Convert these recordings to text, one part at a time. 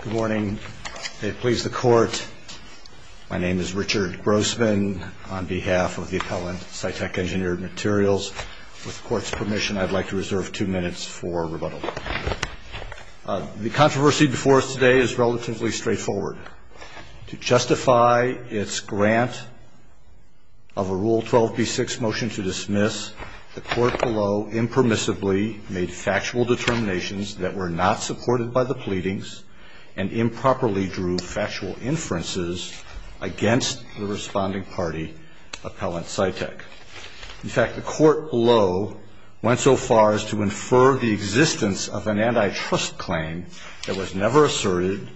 Good morning. May it please the Court, my name is Richard Grossman on behalf of the appellant, SciTech Engineering Materials. With the Court's permission, I'd like to reserve two minutes for rebuttal. The controversy before us today is relatively straightforward. To justify its grant of a Rule 12b6 motion to dismiss, the Court below impermissibly made factual determinations that were not supported by the pleadings and improperly drew factual inferences against the responding party, Appellant SciTech. In fact, the Court below went so far as to infer the existence of an antitrust claim that was never asserted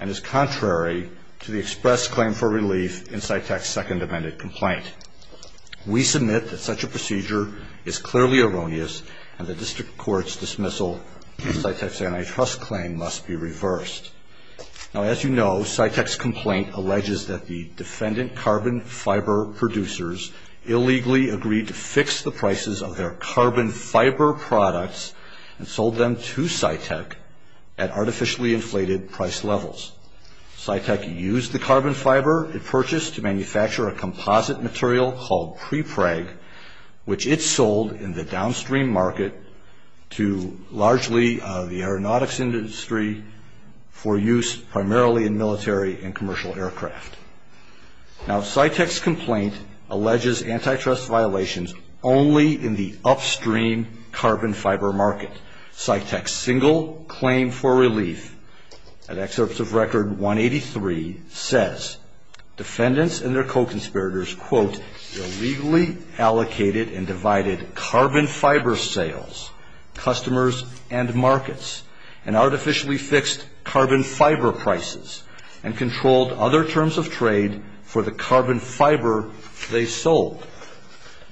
and is contrary to the express claim for relief in SciTech's second amended complaint. We submit that such a procedure is clearly erroneous and the antitrust claim must be reversed. Now, as you know, SciTech's complaint alleges that the defendant carbon fiber producers illegally agreed to fix the prices of their carbon fiber products and sold them to SciTech at artificially inflated price levels. SciTech used the carbon fiber it purchased to manufacture a composite material called prepreg, which it sold in the downstream market to largely the aeronautics industry for use primarily in military and commercial aircraft. Now, SciTech's complaint alleges antitrust violations only in the upstream carbon fiber market. SciTech's single claim for relief, an excerpt of Record 183, says defendants and their co-conspirators, quote, illegally allocated and divided carbon fiber sales, customers and markets, and artificially fixed carbon fiber prices and controlled other terms of trade for the carbon fiber they sold.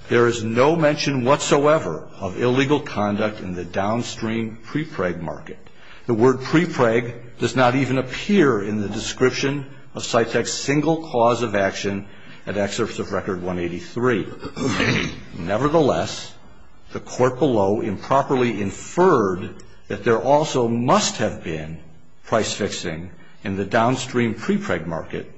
There is no mention whatsoever of illegal conduct in the downstream prepreg market. The word prepreg does not even appear in the 183. Nevertheless, the court below improperly inferred that there also must have been price fixing in the downstream prepreg market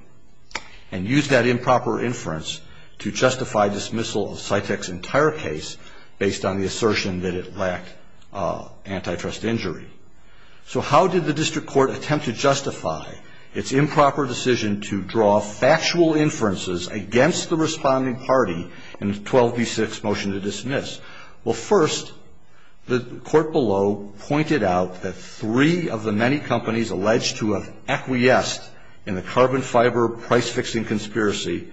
and used that improper inference to justify dismissal of SciTech's entire case based on the assertion that it lacked antitrust injury. So how did the district court attempt to justify its improper decision to draw factual inferences against the corresponding party in the 12B6 motion to dismiss? Well, first, the court below pointed out that three of the many companies alleged to have acquiesced in the carbon fiber price fixing conspiracy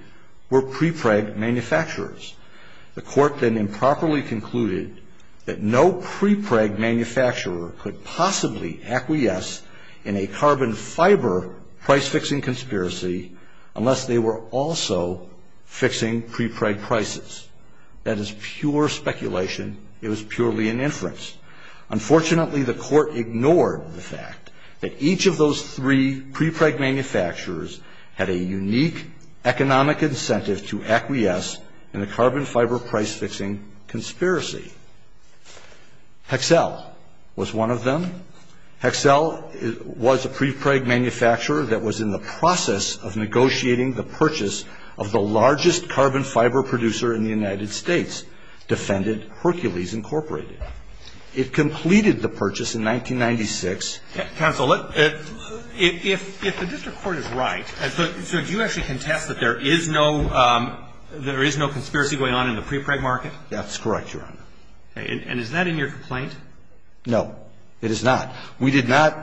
were prepreg manufacturers. The court then improperly concluded that no prepreg manufacturer could possibly acquiesce in a carbon fiber price fixing conspiracy unless they were also fixing prepreg prices. That is pure speculation. It was purely an inference. Unfortunately, the court ignored the fact that each of those three prepreg manufacturers had a unique economic incentive to acquiesce in the carbon fiber price fixing conspiracy. Hexcel was one of them. Hexcel was a prepreg manufacturer that was in the process of negotiating the purchase of the largest carbon fiber producer in the United States, Defendant Hercules Incorporated. It completed the purchase in 1996. Counsel, if the district court is right, so do you actually contest that there is no conspiracy going on in the prepreg market? That's correct, Your Honor. And is that in your complaint? No, it is not. We did not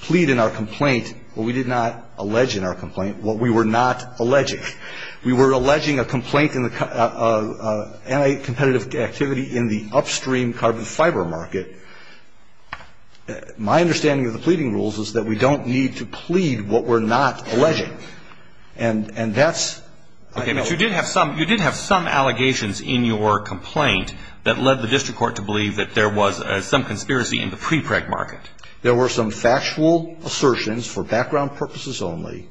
plead in our complaint, or we did not allege in our complaint what we were not alleging. We were alleging a complaint in the anti-competitive activity in the upstream carbon fiber market. My understanding of the pleading rules is that we don't need to plead what we're not alleging. And that's Okay, but you did have some allegations in your complaint that led the district court to believe that there was some conspiracy in the prepreg market. There were some factual assertions, for background purposes only,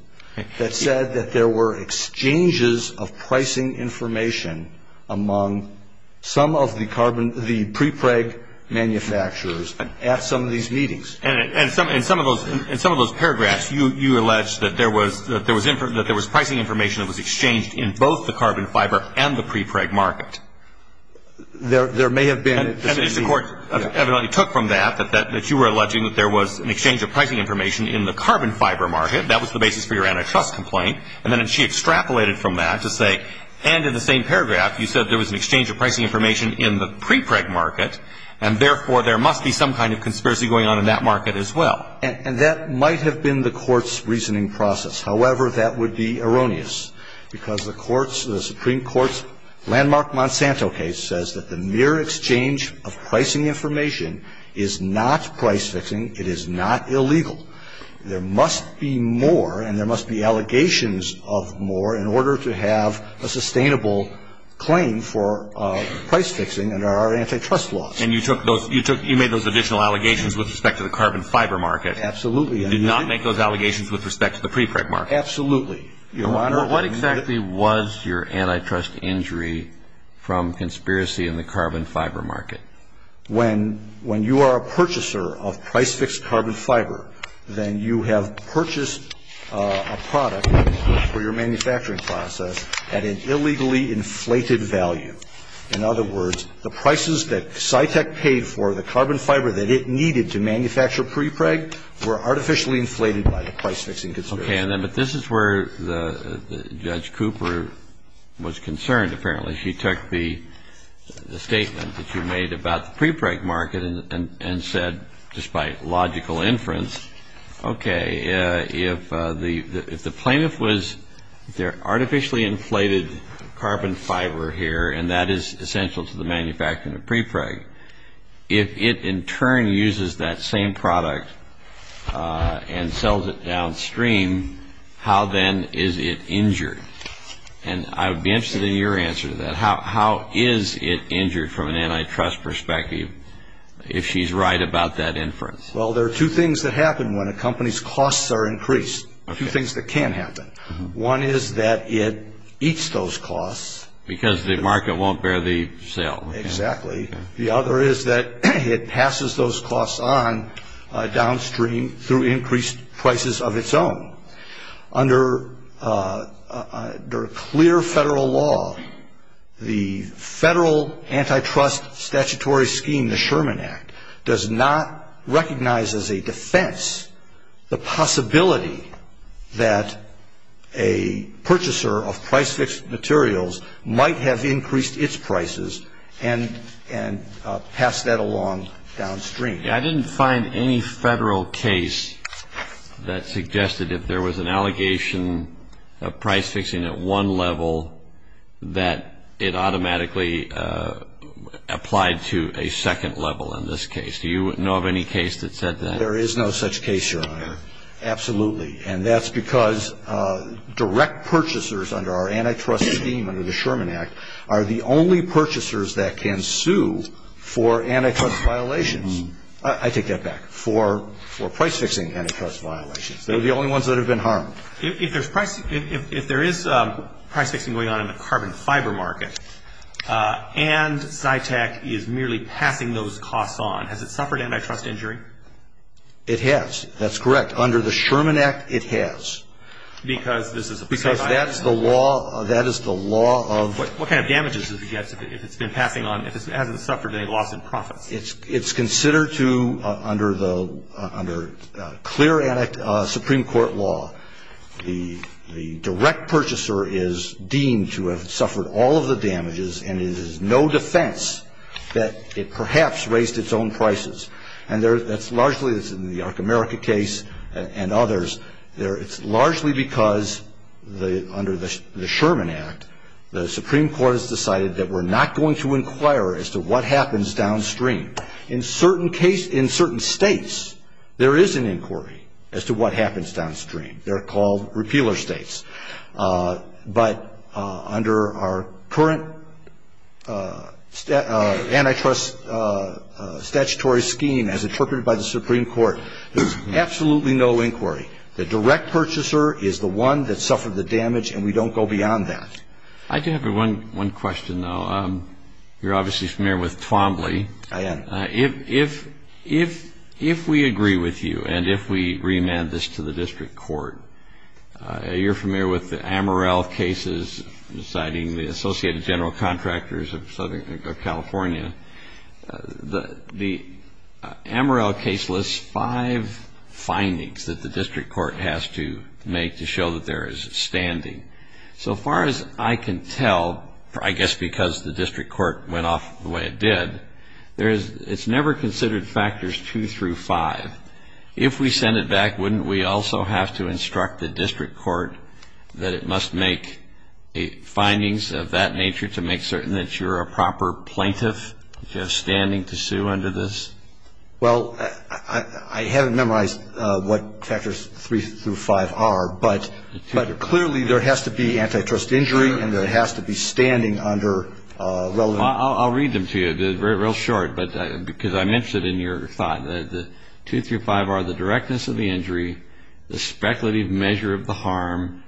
that said that there were exchanges of pricing information among some of the prepreg manufacturers at some of these meetings. And in some of those paragraphs, you alleged that there was pricing information that was exchanged in both the carbon fiber and the prepreg market. There may have been. And the district court evidently took from that that you were alleging that there was an exchange of pricing information in the carbon fiber market. That was the basis for your antitrust complaint. And then she extrapolated from that to say, and in the same paragraph, you said there was an exchange of pricing information in the prepreg market, and therefore there must be some kind of conspiracy going on in that market as well. And that might have been the court's reasoning process. However, that would be erroneous, because the Supreme Court's landmark Monsanto case says that the mere exchange of pricing information is not price fixing. It is not illegal. There must be more, and there must be allegations of more, in order to have a sustainable claim for price fixing under our antitrust laws. And you made those additional allegations with respect to the carbon fiber market. Absolutely. You did not make those allegations with respect to the prepreg market. Absolutely, Your Honor. What exactly was your antitrust injury from conspiracy in the carbon fiber market? When you are a purchaser of price-fixed carbon fiber, then you have purchased a product for your manufacturing process at an illegally inflated value. In other words, the prices that Scitec paid for the carbon fiber that it needed to manufacture prepreg were artificially inflated by the price-fixing institution. Okay. But this is where Judge Cooper was concerned, apparently. She took the statement that you made about the prepreg market and said, just by logical inference, okay, if the plaintiff was, they're artificially inflated carbon fiber here, and that is essential to the manufacturing of prepreg. If it, in that same product, and sells it downstream, how then is it injured? And I would be interested in your answer to that. How is it injured from an antitrust perspective, if she's right about that inference? Well, there are two things that happen when a company's costs are increased, two things that can happen. One is that it eats those costs. Because the market won't bear the sale. Exactly. The other is that it passes those costs on downstream through increased prices of its own. Under clear federal law, the Federal Antitrust Statutory Scheme, the Sherman Act, does not recognize as a defense the possibility that a purchaser of price-fixed materials might have increased its prices and passed that along downstream. I didn't find any federal case that suggested if there was an allegation of price-fixing at one level, that it automatically applied to a second level in this case. Do you know of any case that said that? There is no such case, Your Honor. Absolutely. And that's because direct purchasers under our Antitrust Scheme, under the Sherman Act, are the only purchasers that can sue for antitrust violations. I take that back, for price-fixing antitrust violations. They're the only ones that have been harmed. If there is price-fixing going on in the carbon fiber market, and Zytec is merely passing those costs on, has it suffered antitrust injury? It has. That's correct. Under the Sherman Act, it has. Because this is a process I understand. Because that is the law of What kind of damages does it get if it's been passing on, if it hasn't suffered any loss in profits? It's considered to, under clear Supreme Court law, the direct purchaser is deemed to have suffered all of the damages, and it is no defense that it perhaps raised its own prices. And that's largely in the Ark America case and others. It's largely because under the Sherman Act, the Supreme Court has decided that we're not going to inquire as to what happens downstream. In certain states, there is an inquiry as to what happens downstream. They're called repealer states. But under our current antitrust statutory scheme, as The direct purchaser is the one that suffered the damage, and we don't go beyond that. I do have one question, though. You're obviously familiar with Twombly. I am. If we agree with you, and if we remand this to the district court, you're familiar with the Amaral cases, citing the Associated General Contractors of Southern California. The Amaral case lists five findings that the district court has to make to show that there is standing. So far as I can tell, I guess because the district court went off the way it did, it's never considered factors two through five. If we send it back, wouldn't we also have to instruct the district court that it must make findings of that nature to make certain that you're a proper plaintiff, just standing to sue under this? Well, I haven't memorized what factors three through five are, but clearly there has to be antitrust injury, and there has to be standing under relevant I'll read them to you. They're real short, because I'm interested in your thought. Two through five are the directness of the injury, the speculative measure of the harm,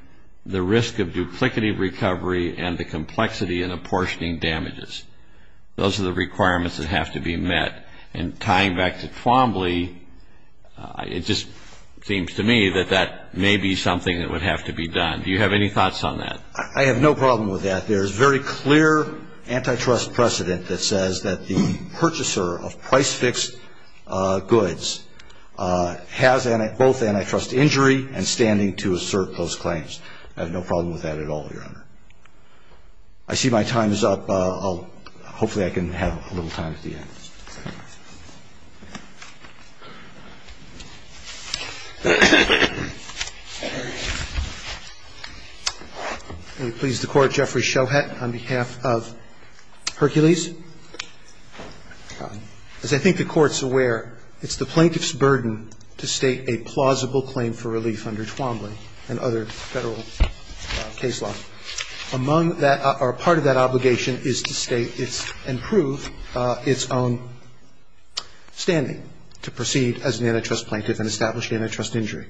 the risk of duplicative recovery, and the complexity and apportioning damages. Those are the requirements that have to be met. And tying back to Twombly, it just seems to me that that may be something that would have to be done. Do you have any thoughts on that? I have no problem with that. There's very clear antitrust precedent that says that the purchaser of price-fixed goods has both antitrust injury and standing to assert those claims. I have no problem with that at all, Your Honor. I see my time is up. Hopefully I can have a little time at the end. May it please the Court, Jeffrey Shohet on behalf of Hercules. As I think the Court's aware, it's the plaintiff's burden to state a plausible claim for relief under Twombly and other Federal case law. Among that, or part of that obligation is to state its, and prove its own standing to proceed as an antitrust plaintiff and establish antitrust injury.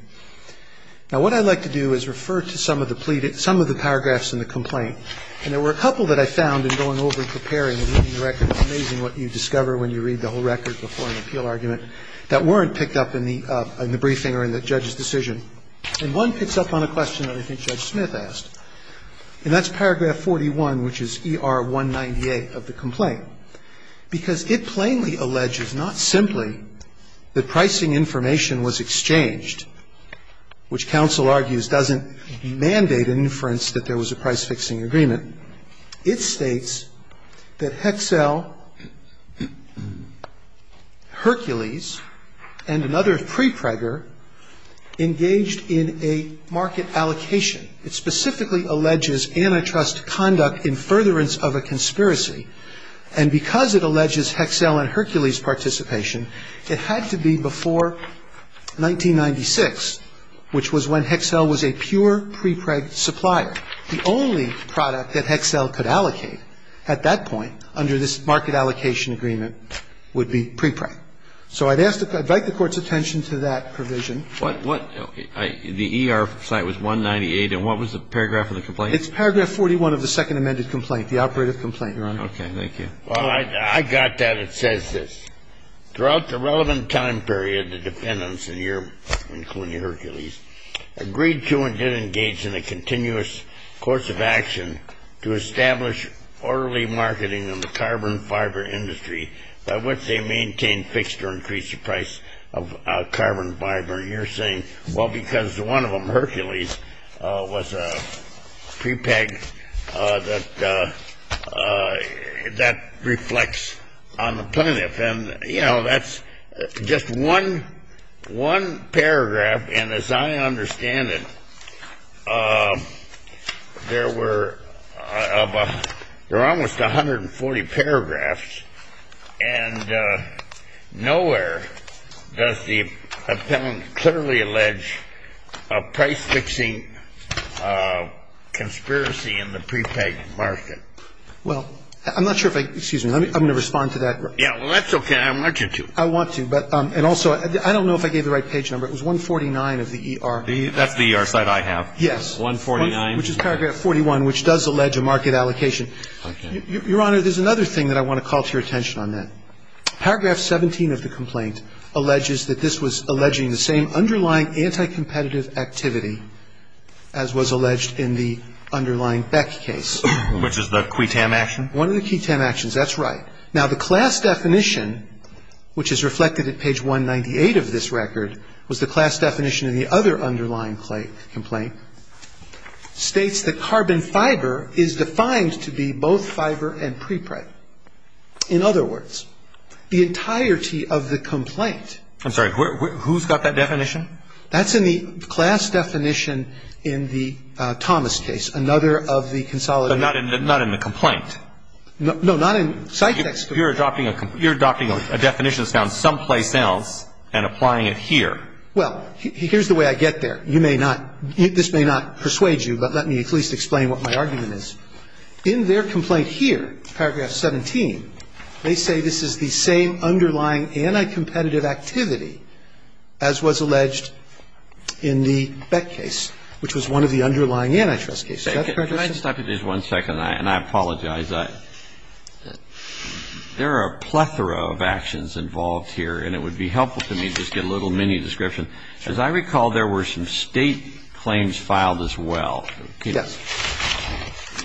Now what I'd like to do is refer to some of the paragraphs in the complaint. And there were a couple that I found in going over and preparing and reading the record. It's amazing what you discover when you read the whole record before an appeal argument that weren't picked up in the briefing or in the judge's decision. And one picks up on a question that I think Judge Smith asked. And that's paragraph 41, which is ER198 of the complaint. Because it plainly alleges, not simply, that pricing information was exchanged, which counsel argues doesn't mandate an inference that there was a price-fixing agreement. It states that Hexel, Hercules, and another prepregger engaged in a market allocation. It specifically alleges antitrust conduct in furtherance of a conspiracy. And because it alleges Hexel and Hercules' participation, it had to be before 1996, which was when Hexel was a pure prepreg supplier. The only product that Hexel could allocate at that point under this market allocation agreement would be prepreg. So I'd ask the Court's attention to that provision. But what the ER site was 198, and what was the paragraph of the complaint? It's paragraph 41 of the second amended complaint, the operative complaint, Your Honor. Okay. Thank you. Well, I got that. It says this. Throughout the relevant time period, the defendants in Europe, including Hercules, agreed to and did engage in a continuous course of action to establish orderly marketing of the carbon fiber industry by which they maintained fixed or increased the price of carbon fiber. And you're saying, well, because one of them, Hercules, was a prepreg that reflects on the plaintiff. And, you know, that's just one paragraph, and as I understand it, there were almost 140 paragraphs, and nowhere does the defendant clearly allege a price-fixing conspiracy in the prepreg market. Well, I'm not sure if I — excuse me. I'm going to respond to that. Yeah, well, that's okay. I want you to. I want to, but — and also, I don't know if I gave the right page number. It was 149 of the ER — That's the ER site I have. Yes. 149. Which is paragraph 41, which does allege a market allocation. Okay. Your Honor, there's another thing that I want to call to your attention on that. Paragraph 17 of the complaint alleges that this was alleging the same underlying anti-competitive activity as was alleged in the underlying Beck case. Which is the QUITAM action? One of the QUITAM actions. That's right. Now, the class definition, which is reflected at page 198 of this record, was the class definition in the other underlying complaint, states that carbon fiber is defined to be both fiber and prepreg. In other words, the entirety of the complaint — I'm sorry. Who's got that definition? That's in the class definition in the Thomas case, another of the consolidated — But not in the complaint. No, not in site text. You're adopting a definition that's found someplace else and applying it here. Well, here's the way I get there. You may not — this may not persuade you, but let me at least explain what my argument is. In their complaint here, paragraph 17, they say this is the same underlying anti-competitive activity as was alleged in the Beck case, which was one of the underlying antitrust cases. Is that correct, Justice? Can I just stop you for just one second, and I apologize? There are a plethora of actions involved here, and it would be helpful to me to just get a little mini-description. As I recall, there were some state claims filed as well. Yes.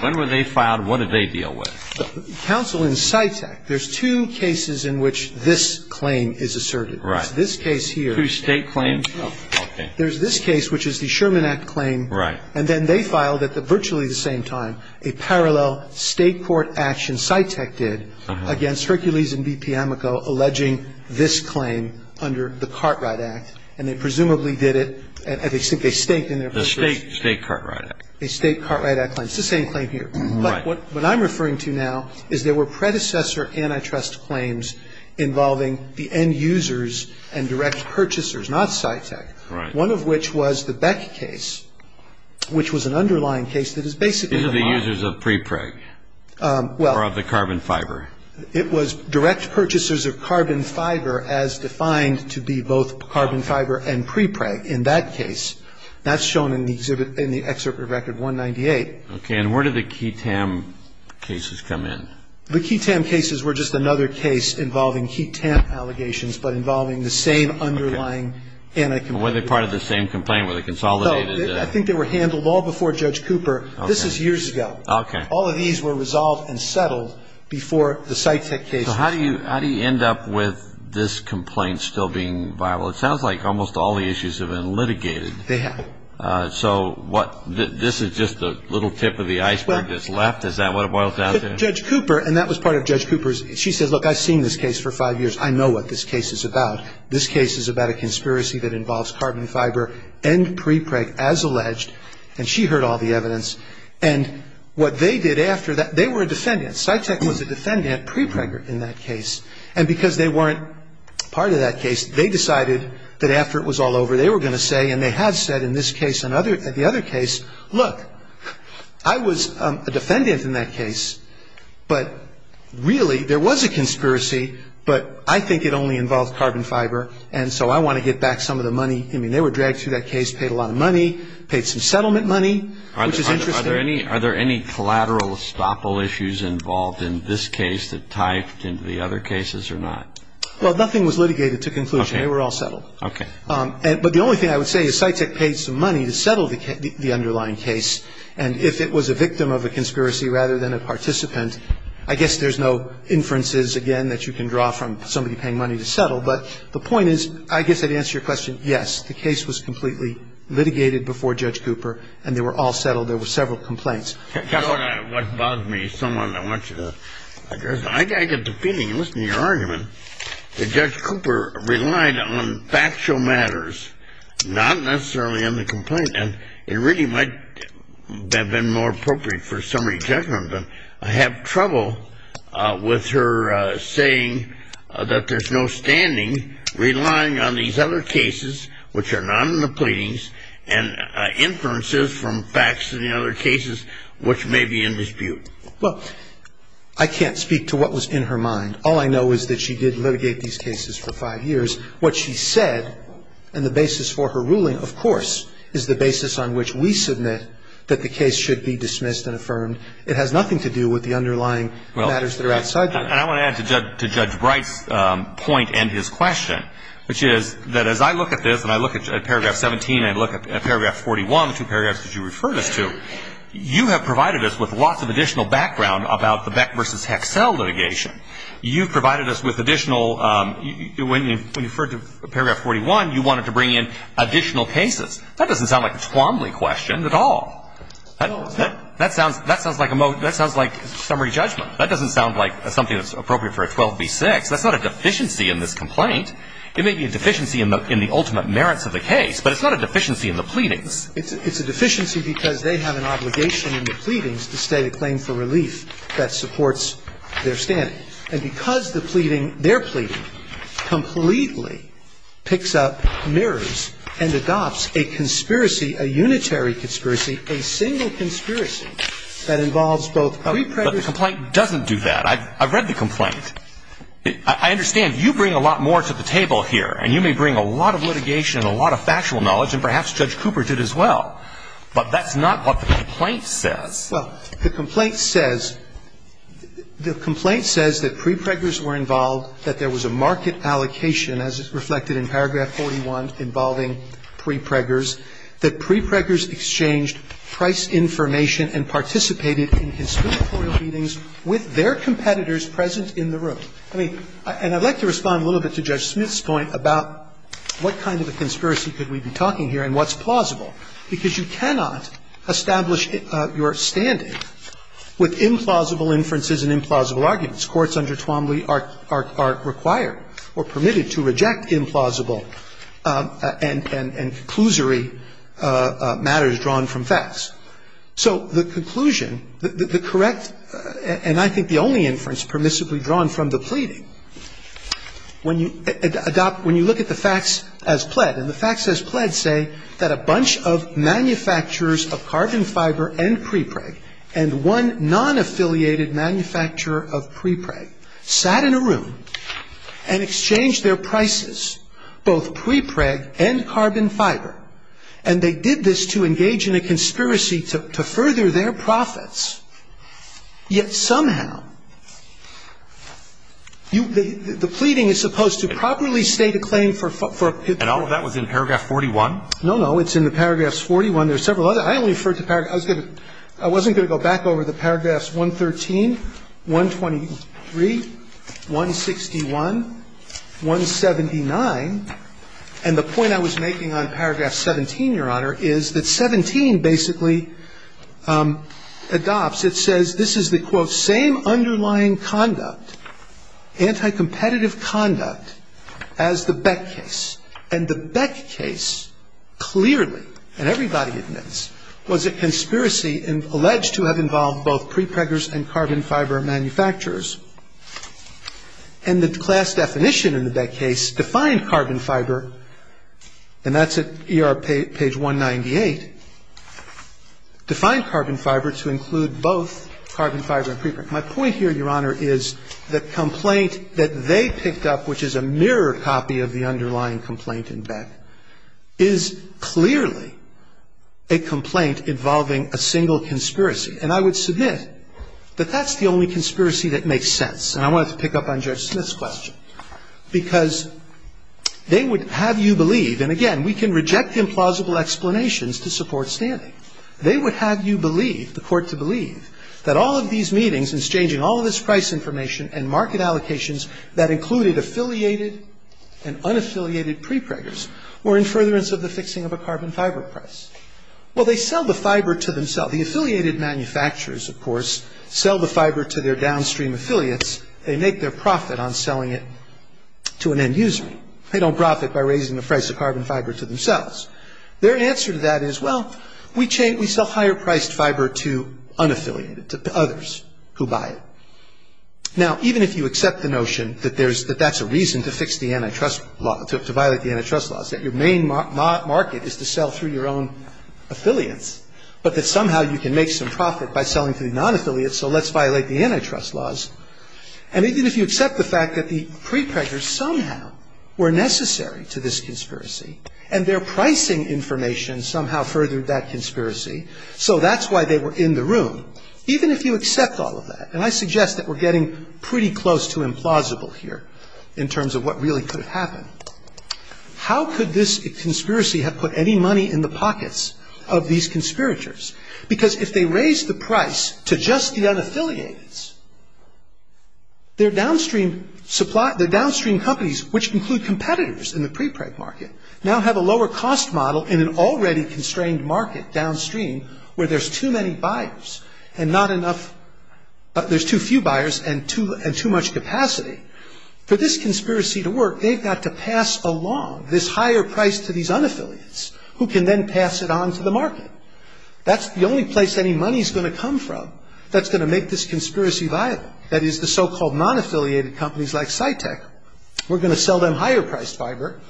When were they filed, and what did they deal with? Counsel in CITEK, there's two cases in which this claim is asserted. Right. There's this case here — Two state claims? There's this case, which is the Sherman Act claim. Right. And then they filed, at virtually the same time, a parallel state court action, CITEK did, against Hercules and BP Amico, alleging this claim under the Cartwright Act, and they presumably did it — they staked in their purpose. The state Cartwright Act. A state Cartwright Act claim. It's the same claim here. Right. But what I'm referring to now is there were predecessor antitrust claims involving the end users and direct purchasers, not CITEK. Right. — These are the users of pre-PREG, or of the carbon fiber. It was direct purchasers of carbon fiber as defined to be both carbon fiber and pre-PREG in that case. That's shown in the exhibit — in the excerpt of Record 198. Okay. And where did the KEATAM cases come in? The KEATAM cases were just another case involving HEATAM allegations, but involving the same underlying anti-competitive — Were they part of the same complaint, where they consolidated — No. I think they were handled all before Judge Cooper. This is years ago. Okay. All of these were resolved and settled before the CITEK cases. So how do you — how do you end up with this complaint still being viable? It sounds like almost all the issues have been litigated. They have. So what — this is just a little tip of the iceberg that's left? Is that what it boils down to? Judge Cooper — and that was part of Judge Cooper's — she says, look, I've seen this case for five years. I know what this case is about. This case is about a conspiracy that involves carbon fiber and pre-PREG, as alleged. And she heard all the evidence. And what they did after that — they were a defendant. CITEK was a defendant pre-PREG in that case. And because they weren't part of that case, they decided that after it was all over, they were going to say — and they have said in this case and the other case, look, I was a defendant in that case, but really there was a conspiracy, but I think it only involved carbon fiber. And so I want to get back some of the money. I mean, they were dragged through that case, paid a lot of money, paid some settlement money, which is interesting. Are there any collateral estoppel issues involved in this case that tie into the other cases or not? Well, nothing was litigated to conclusion. They were all settled. Okay. But the only thing I would say is CITEK paid some money to settle the underlying case. And if it was a victim of a conspiracy rather than a participant, I guess there's no inferences, again, that you can draw from somebody paying money to settle. But the point is, I guess I'd answer your question, yes, the case was completely litigated before Judge Cooper, and they were all settled. There were several complaints. What bothers me, someone, I want you to address. I get the feeling, listening to your argument, that Judge Cooper relied on factual matters, not necessarily on the complaint. And it really might have been more appropriate for a summary judgment. But I have trouble with her saying that there's no standing relying on these other cases which are not in the pleadings and inferences from facts in the other cases which may be in dispute. Well, I can't speak to what was in her mind. All I know is that she did litigate these cases for five years. What she said and the basis for her ruling, of course, is the basis on which we submit that the case should be dismissed and affirmed. It has nothing to do with the underlying matters that are outside the court. And I want to add to Judge Bright's point and his question, which is that as I look at this and I look at paragraph 17 and I look at paragraph 41, the two paragraphs that you referred us to, you have provided us with lots of additional background about the Beck versus Hexel litigation. You've provided us with additional, when you referred to paragraph 41, you wanted to bring in additional cases. That doesn't sound like a Twombly question at all. That sounds like a summary judgment. That doesn't sound like something that's appropriate for a 12B6. That's not a deficiency in this complaint. It may be a deficiency in the ultimate merits of the case, but it's not a deficiency in the pleadings. It's a deficiency because they have an obligation in the pleadings to state a claim for relief that supports their standing. And because the pleading, their pleading, completely picks up, mirrors, and adopts a conspiracy, a unitary conspiracy, a single conspiracy that involves both pre-pregnancy I've read the complaint. I understand you bring a lot more to the table here, and you may bring a lot of litigation and a lot of factual knowledge, and perhaps Judge Cooper did as well, but that's not what the complaint says. Well, the complaint says, the complaint says that pre-preggers were involved, that there was a market allocation as reflected in paragraph 41 involving pre-preggers, that pre-preggers exchanged price information and participated in conspiratorial meetings with their competitors present in the room. I mean, and I'd like to respond a little bit to Judge Smith's point about what kind of a conspiracy could we be talking here and what's plausible, because you cannot establish your standing with implausible inferences and implausible arguments. Courts under Twombly are required or permitted to reject implausible and conclusory matters drawn from facts. So the conclusion, the correct, and I think the only inference permissibly drawn from the pleading, when you adopt, when you look at the facts as pled, and the facts as pled say that a bunch of manufacturers of carbon fiber and pre-preg and one non-affiliated manufacturer of pre-preg sat in a room and exchanged their prices, both pre-preg and carbon fiber, and they did this to engage in a conspiracy to further their profits. Yet somehow, you – the pleading is supposed to properly state a claim for a – for a And all of that was in paragraph 41? No, no. It's in the paragraphs 41. There are several other. I only referred to – I was going to – I wasn't going to go back over the paragraphs 113, 123, 161, 179, and the point I was making on paragraph 17, Your Honor, is that 17 basically adopts – it says this is the, quote, same underlying conduct, anti-competitive conduct, as the Beck case. And the Beck case, clearly, and everybody admits, was a conspiracy alleged to have involved both pre-preggers and carbon fiber manufacturers. And the class definition in the Beck case defined carbon fiber, and that's at ER page 198, defined carbon fiber to include both carbon fiber and pre-preg. My point here, Your Honor, is the complaint that they picked up, which is a mirrored copy of the underlying complaint in Beck, is clearly a complaint involving a single conspiracy. And I would submit that that's the only conspiracy that makes sense. And I wanted to pick up on Judge Smith's question, because they would have you believe – and, again, we can reject implausible explanations to support standing. They would have you believe, the Court to believe, that all of these meetings exchanging all of this price information and market allocations that included affiliated and unaffiliated pre-preggers were in furtherance of the fixing of a carbon fiber price. Well, they sell the fiber to themselves. The affiliated manufacturers, of course, sell the fiber to their downstream affiliates. They make their profit on selling it to an end user. They don't profit by raising the price of carbon fiber to themselves. Their answer to that is, well, we sell higher priced fiber to unaffiliated, to others who buy it. Now, even if you accept the notion that that's a reason to fix the antitrust law, to violate the antitrust laws, that your main market is to sell through your own affiliates, but that somehow you can make some profit by selling to the non-affiliates, so let's violate the antitrust laws. And even if you accept the fact that the pre-preggers somehow were necessary to this conspiracy, and their pricing information somehow furthered that conspiracy, so that's why they were in the room. Even if you accept all of that – and I suggest that we're getting pretty close to implausible here, in terms of what really could have happened – how could this conspiracy have put any money in the pockets of these conspirators? Because if they raise the price to just the unaffiliates, their downstream companies, which include competitors in the pre-preg market, now have a lower cost model in an already constrained market downstream, where there's too many buyers, and not enough – there's too few buyers, and too much capacity, for this conspiracy to work, they've got to pass along this higher price to these unaffiliates, who can then pass it on to the market. That's the only place any money's going to come from that's going to make this conspiracy viable. That is, the so-called non-affiliated companies like SciTech, we're going to sell them higher-priced fiber,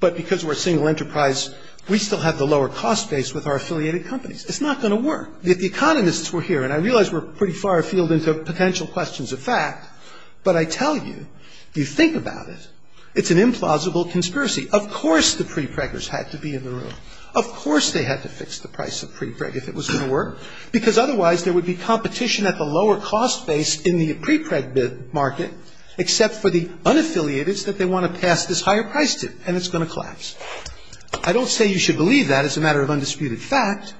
but because we're a single enterprise, we still have the lower cost base with our affiliated companies. It's not going to work. If the economists were here – and I realize we're pretty far afield into potential questions of fact – but I tell you, you think about it, it's an implausible conspiracy. Of course the pre-preggers had to be in the room. Of course they had to fix the price of pre-preg if it was going to work, because otherwise there would be competition at the lower cost base in the pre-preg market, except for the unaffiliateds that they want to pass this higher price to, and it's going to collapse. I don't say you should believe that as a matter of undisputed fact.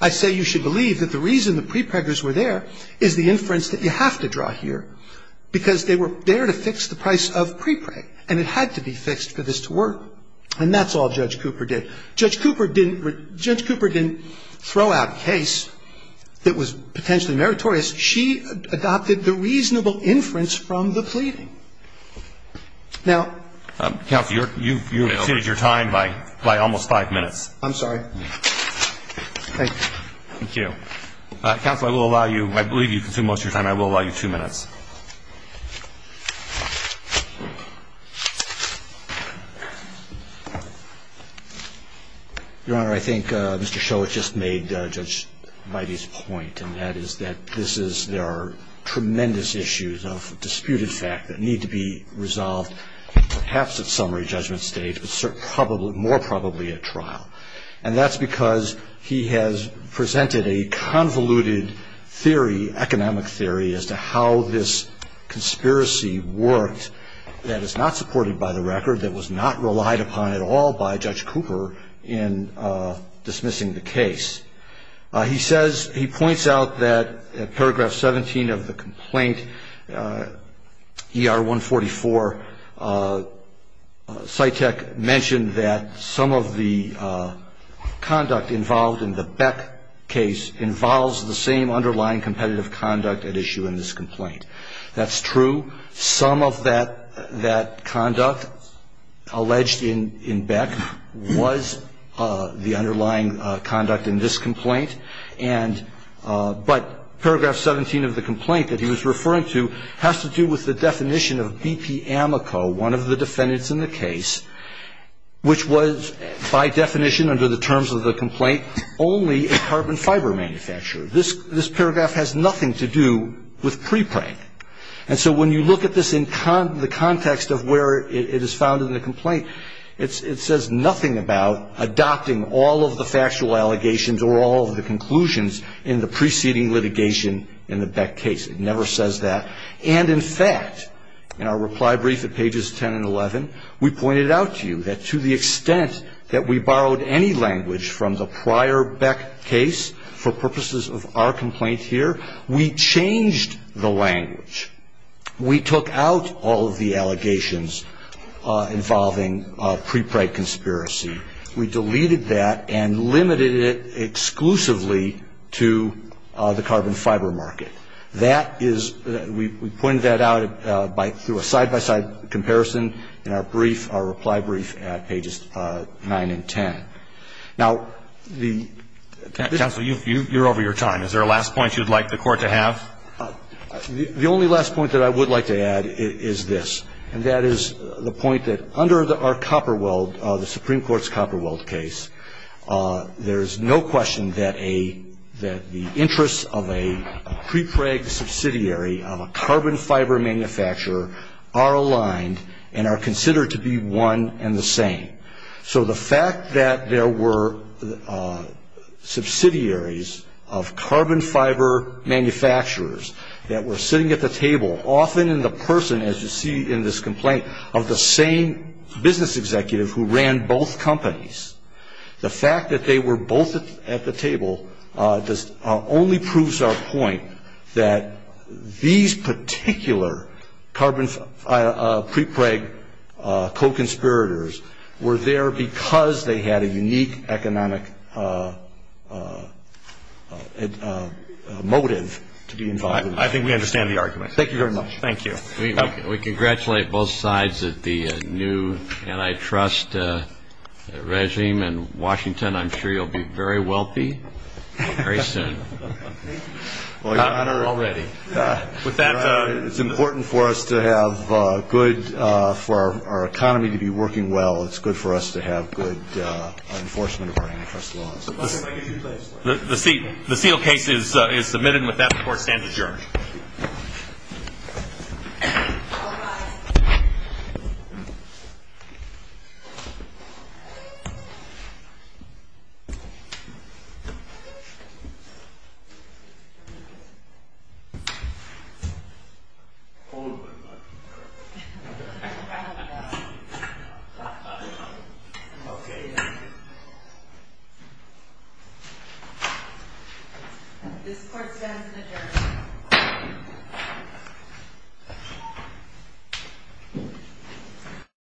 I say you should believe that the reason the pre-preggers were there is the inference that you have to draw here, because they were there to fix the price of pre-preg, and it had to be fixed for this to work. And that's all Judge Cooper did. Judge Cooper didn't – Judge Cooper didn't throw out a case that was potentially meritorious. She adopted the reasonable inference from the pleading. Now, Counselor, you've exceeded your time by almost five minutes. I'm sorry. Thank you. Thank you. Counselor, I will allow you – I believe you've consumed most of your time. I will allow you two minutes. Your Honor, I think Mr. Show has just made Judge Bidey's point, and that is that this is – there are tremendous issues of disputed fact that need to be resolved, perhaps at summary judgment stage, but more probably at trial. And that's because he has presented a convoluted theory, economic theory, as to how this conspiracy worked that is not supported by the record, that was not relied upon at all by Judge Cooper in dismissing the case. He says – he points out that at paragraph 17 of the complaint, ER 144, Cytek mentioned that some of the conduct involved in the Beck case involves the same underlying competitive conduct at issue in this complaint. That's true. Some of that conduct alleged in Beck was the underlying conduct in this complaint. And – but paragraph 17 of the complaint that he was referring to has to do with the definition of BP Amoco, one of the defendants in the case, which was by definition under the terms of the complaint only a carbon fiber manufacturer. This paragraph has nothing to do with pre-prank. And so when you look at this in the context of where it is found in the complaint, it says nothing about adopting all of the factual allegations or all of the conclusions in the preceding litigation in the Beck case. It never says that. And in fact, in our reply brief at pages 10 and 11, we pointed out to you that to the extent that we borrowed any language from the prior Beck case for purposes of our complaint here, we changed the language. We took out all of the allegations involving pre-prank conspiracy. We deleted that and limited it exclusively to the carbon fiber market. That is – we pointed that out by – through a side-by-side comparison in our brief, our reply brief at pages 9 and 10. Now, the – Counsel, you're over your time. Is there a last point you'd like the Court to have? The only last point that I would like to add is this. And that is the point that under our Copperweld, the Supreme Court's Copperweld case, there's no question that a – that the interests of a pre-prank subsidiary of a carbon fiber manufacturer are aligned and are considered to be one and the same. So the fact that there were subsidiaries of carbon fiber manufacturers that were sitting at the table, often in the person, as you see in this complaint, of the same business executive who ran both companies, the fact that they were both at the table only proves our point that these particular carbon – pre-prank co-conspirators were there because they had a unique economic motive to be involved in that. I think we understand the argument. Thank you very much. Thank you. We congratulate both sides of the new antitrust regime in Washington. I'm sure you'll be very wealthy very soon. Thank you. Well, your Honor, it's important for us to have good – for our economy to be working well, it's good for us to have good enforcement of our antitrust laws. The seal case is submitted and with that, the Court stands adjourned. All right. Thank you, Your Honor. Thank you. Okay. This Court stands adjourned.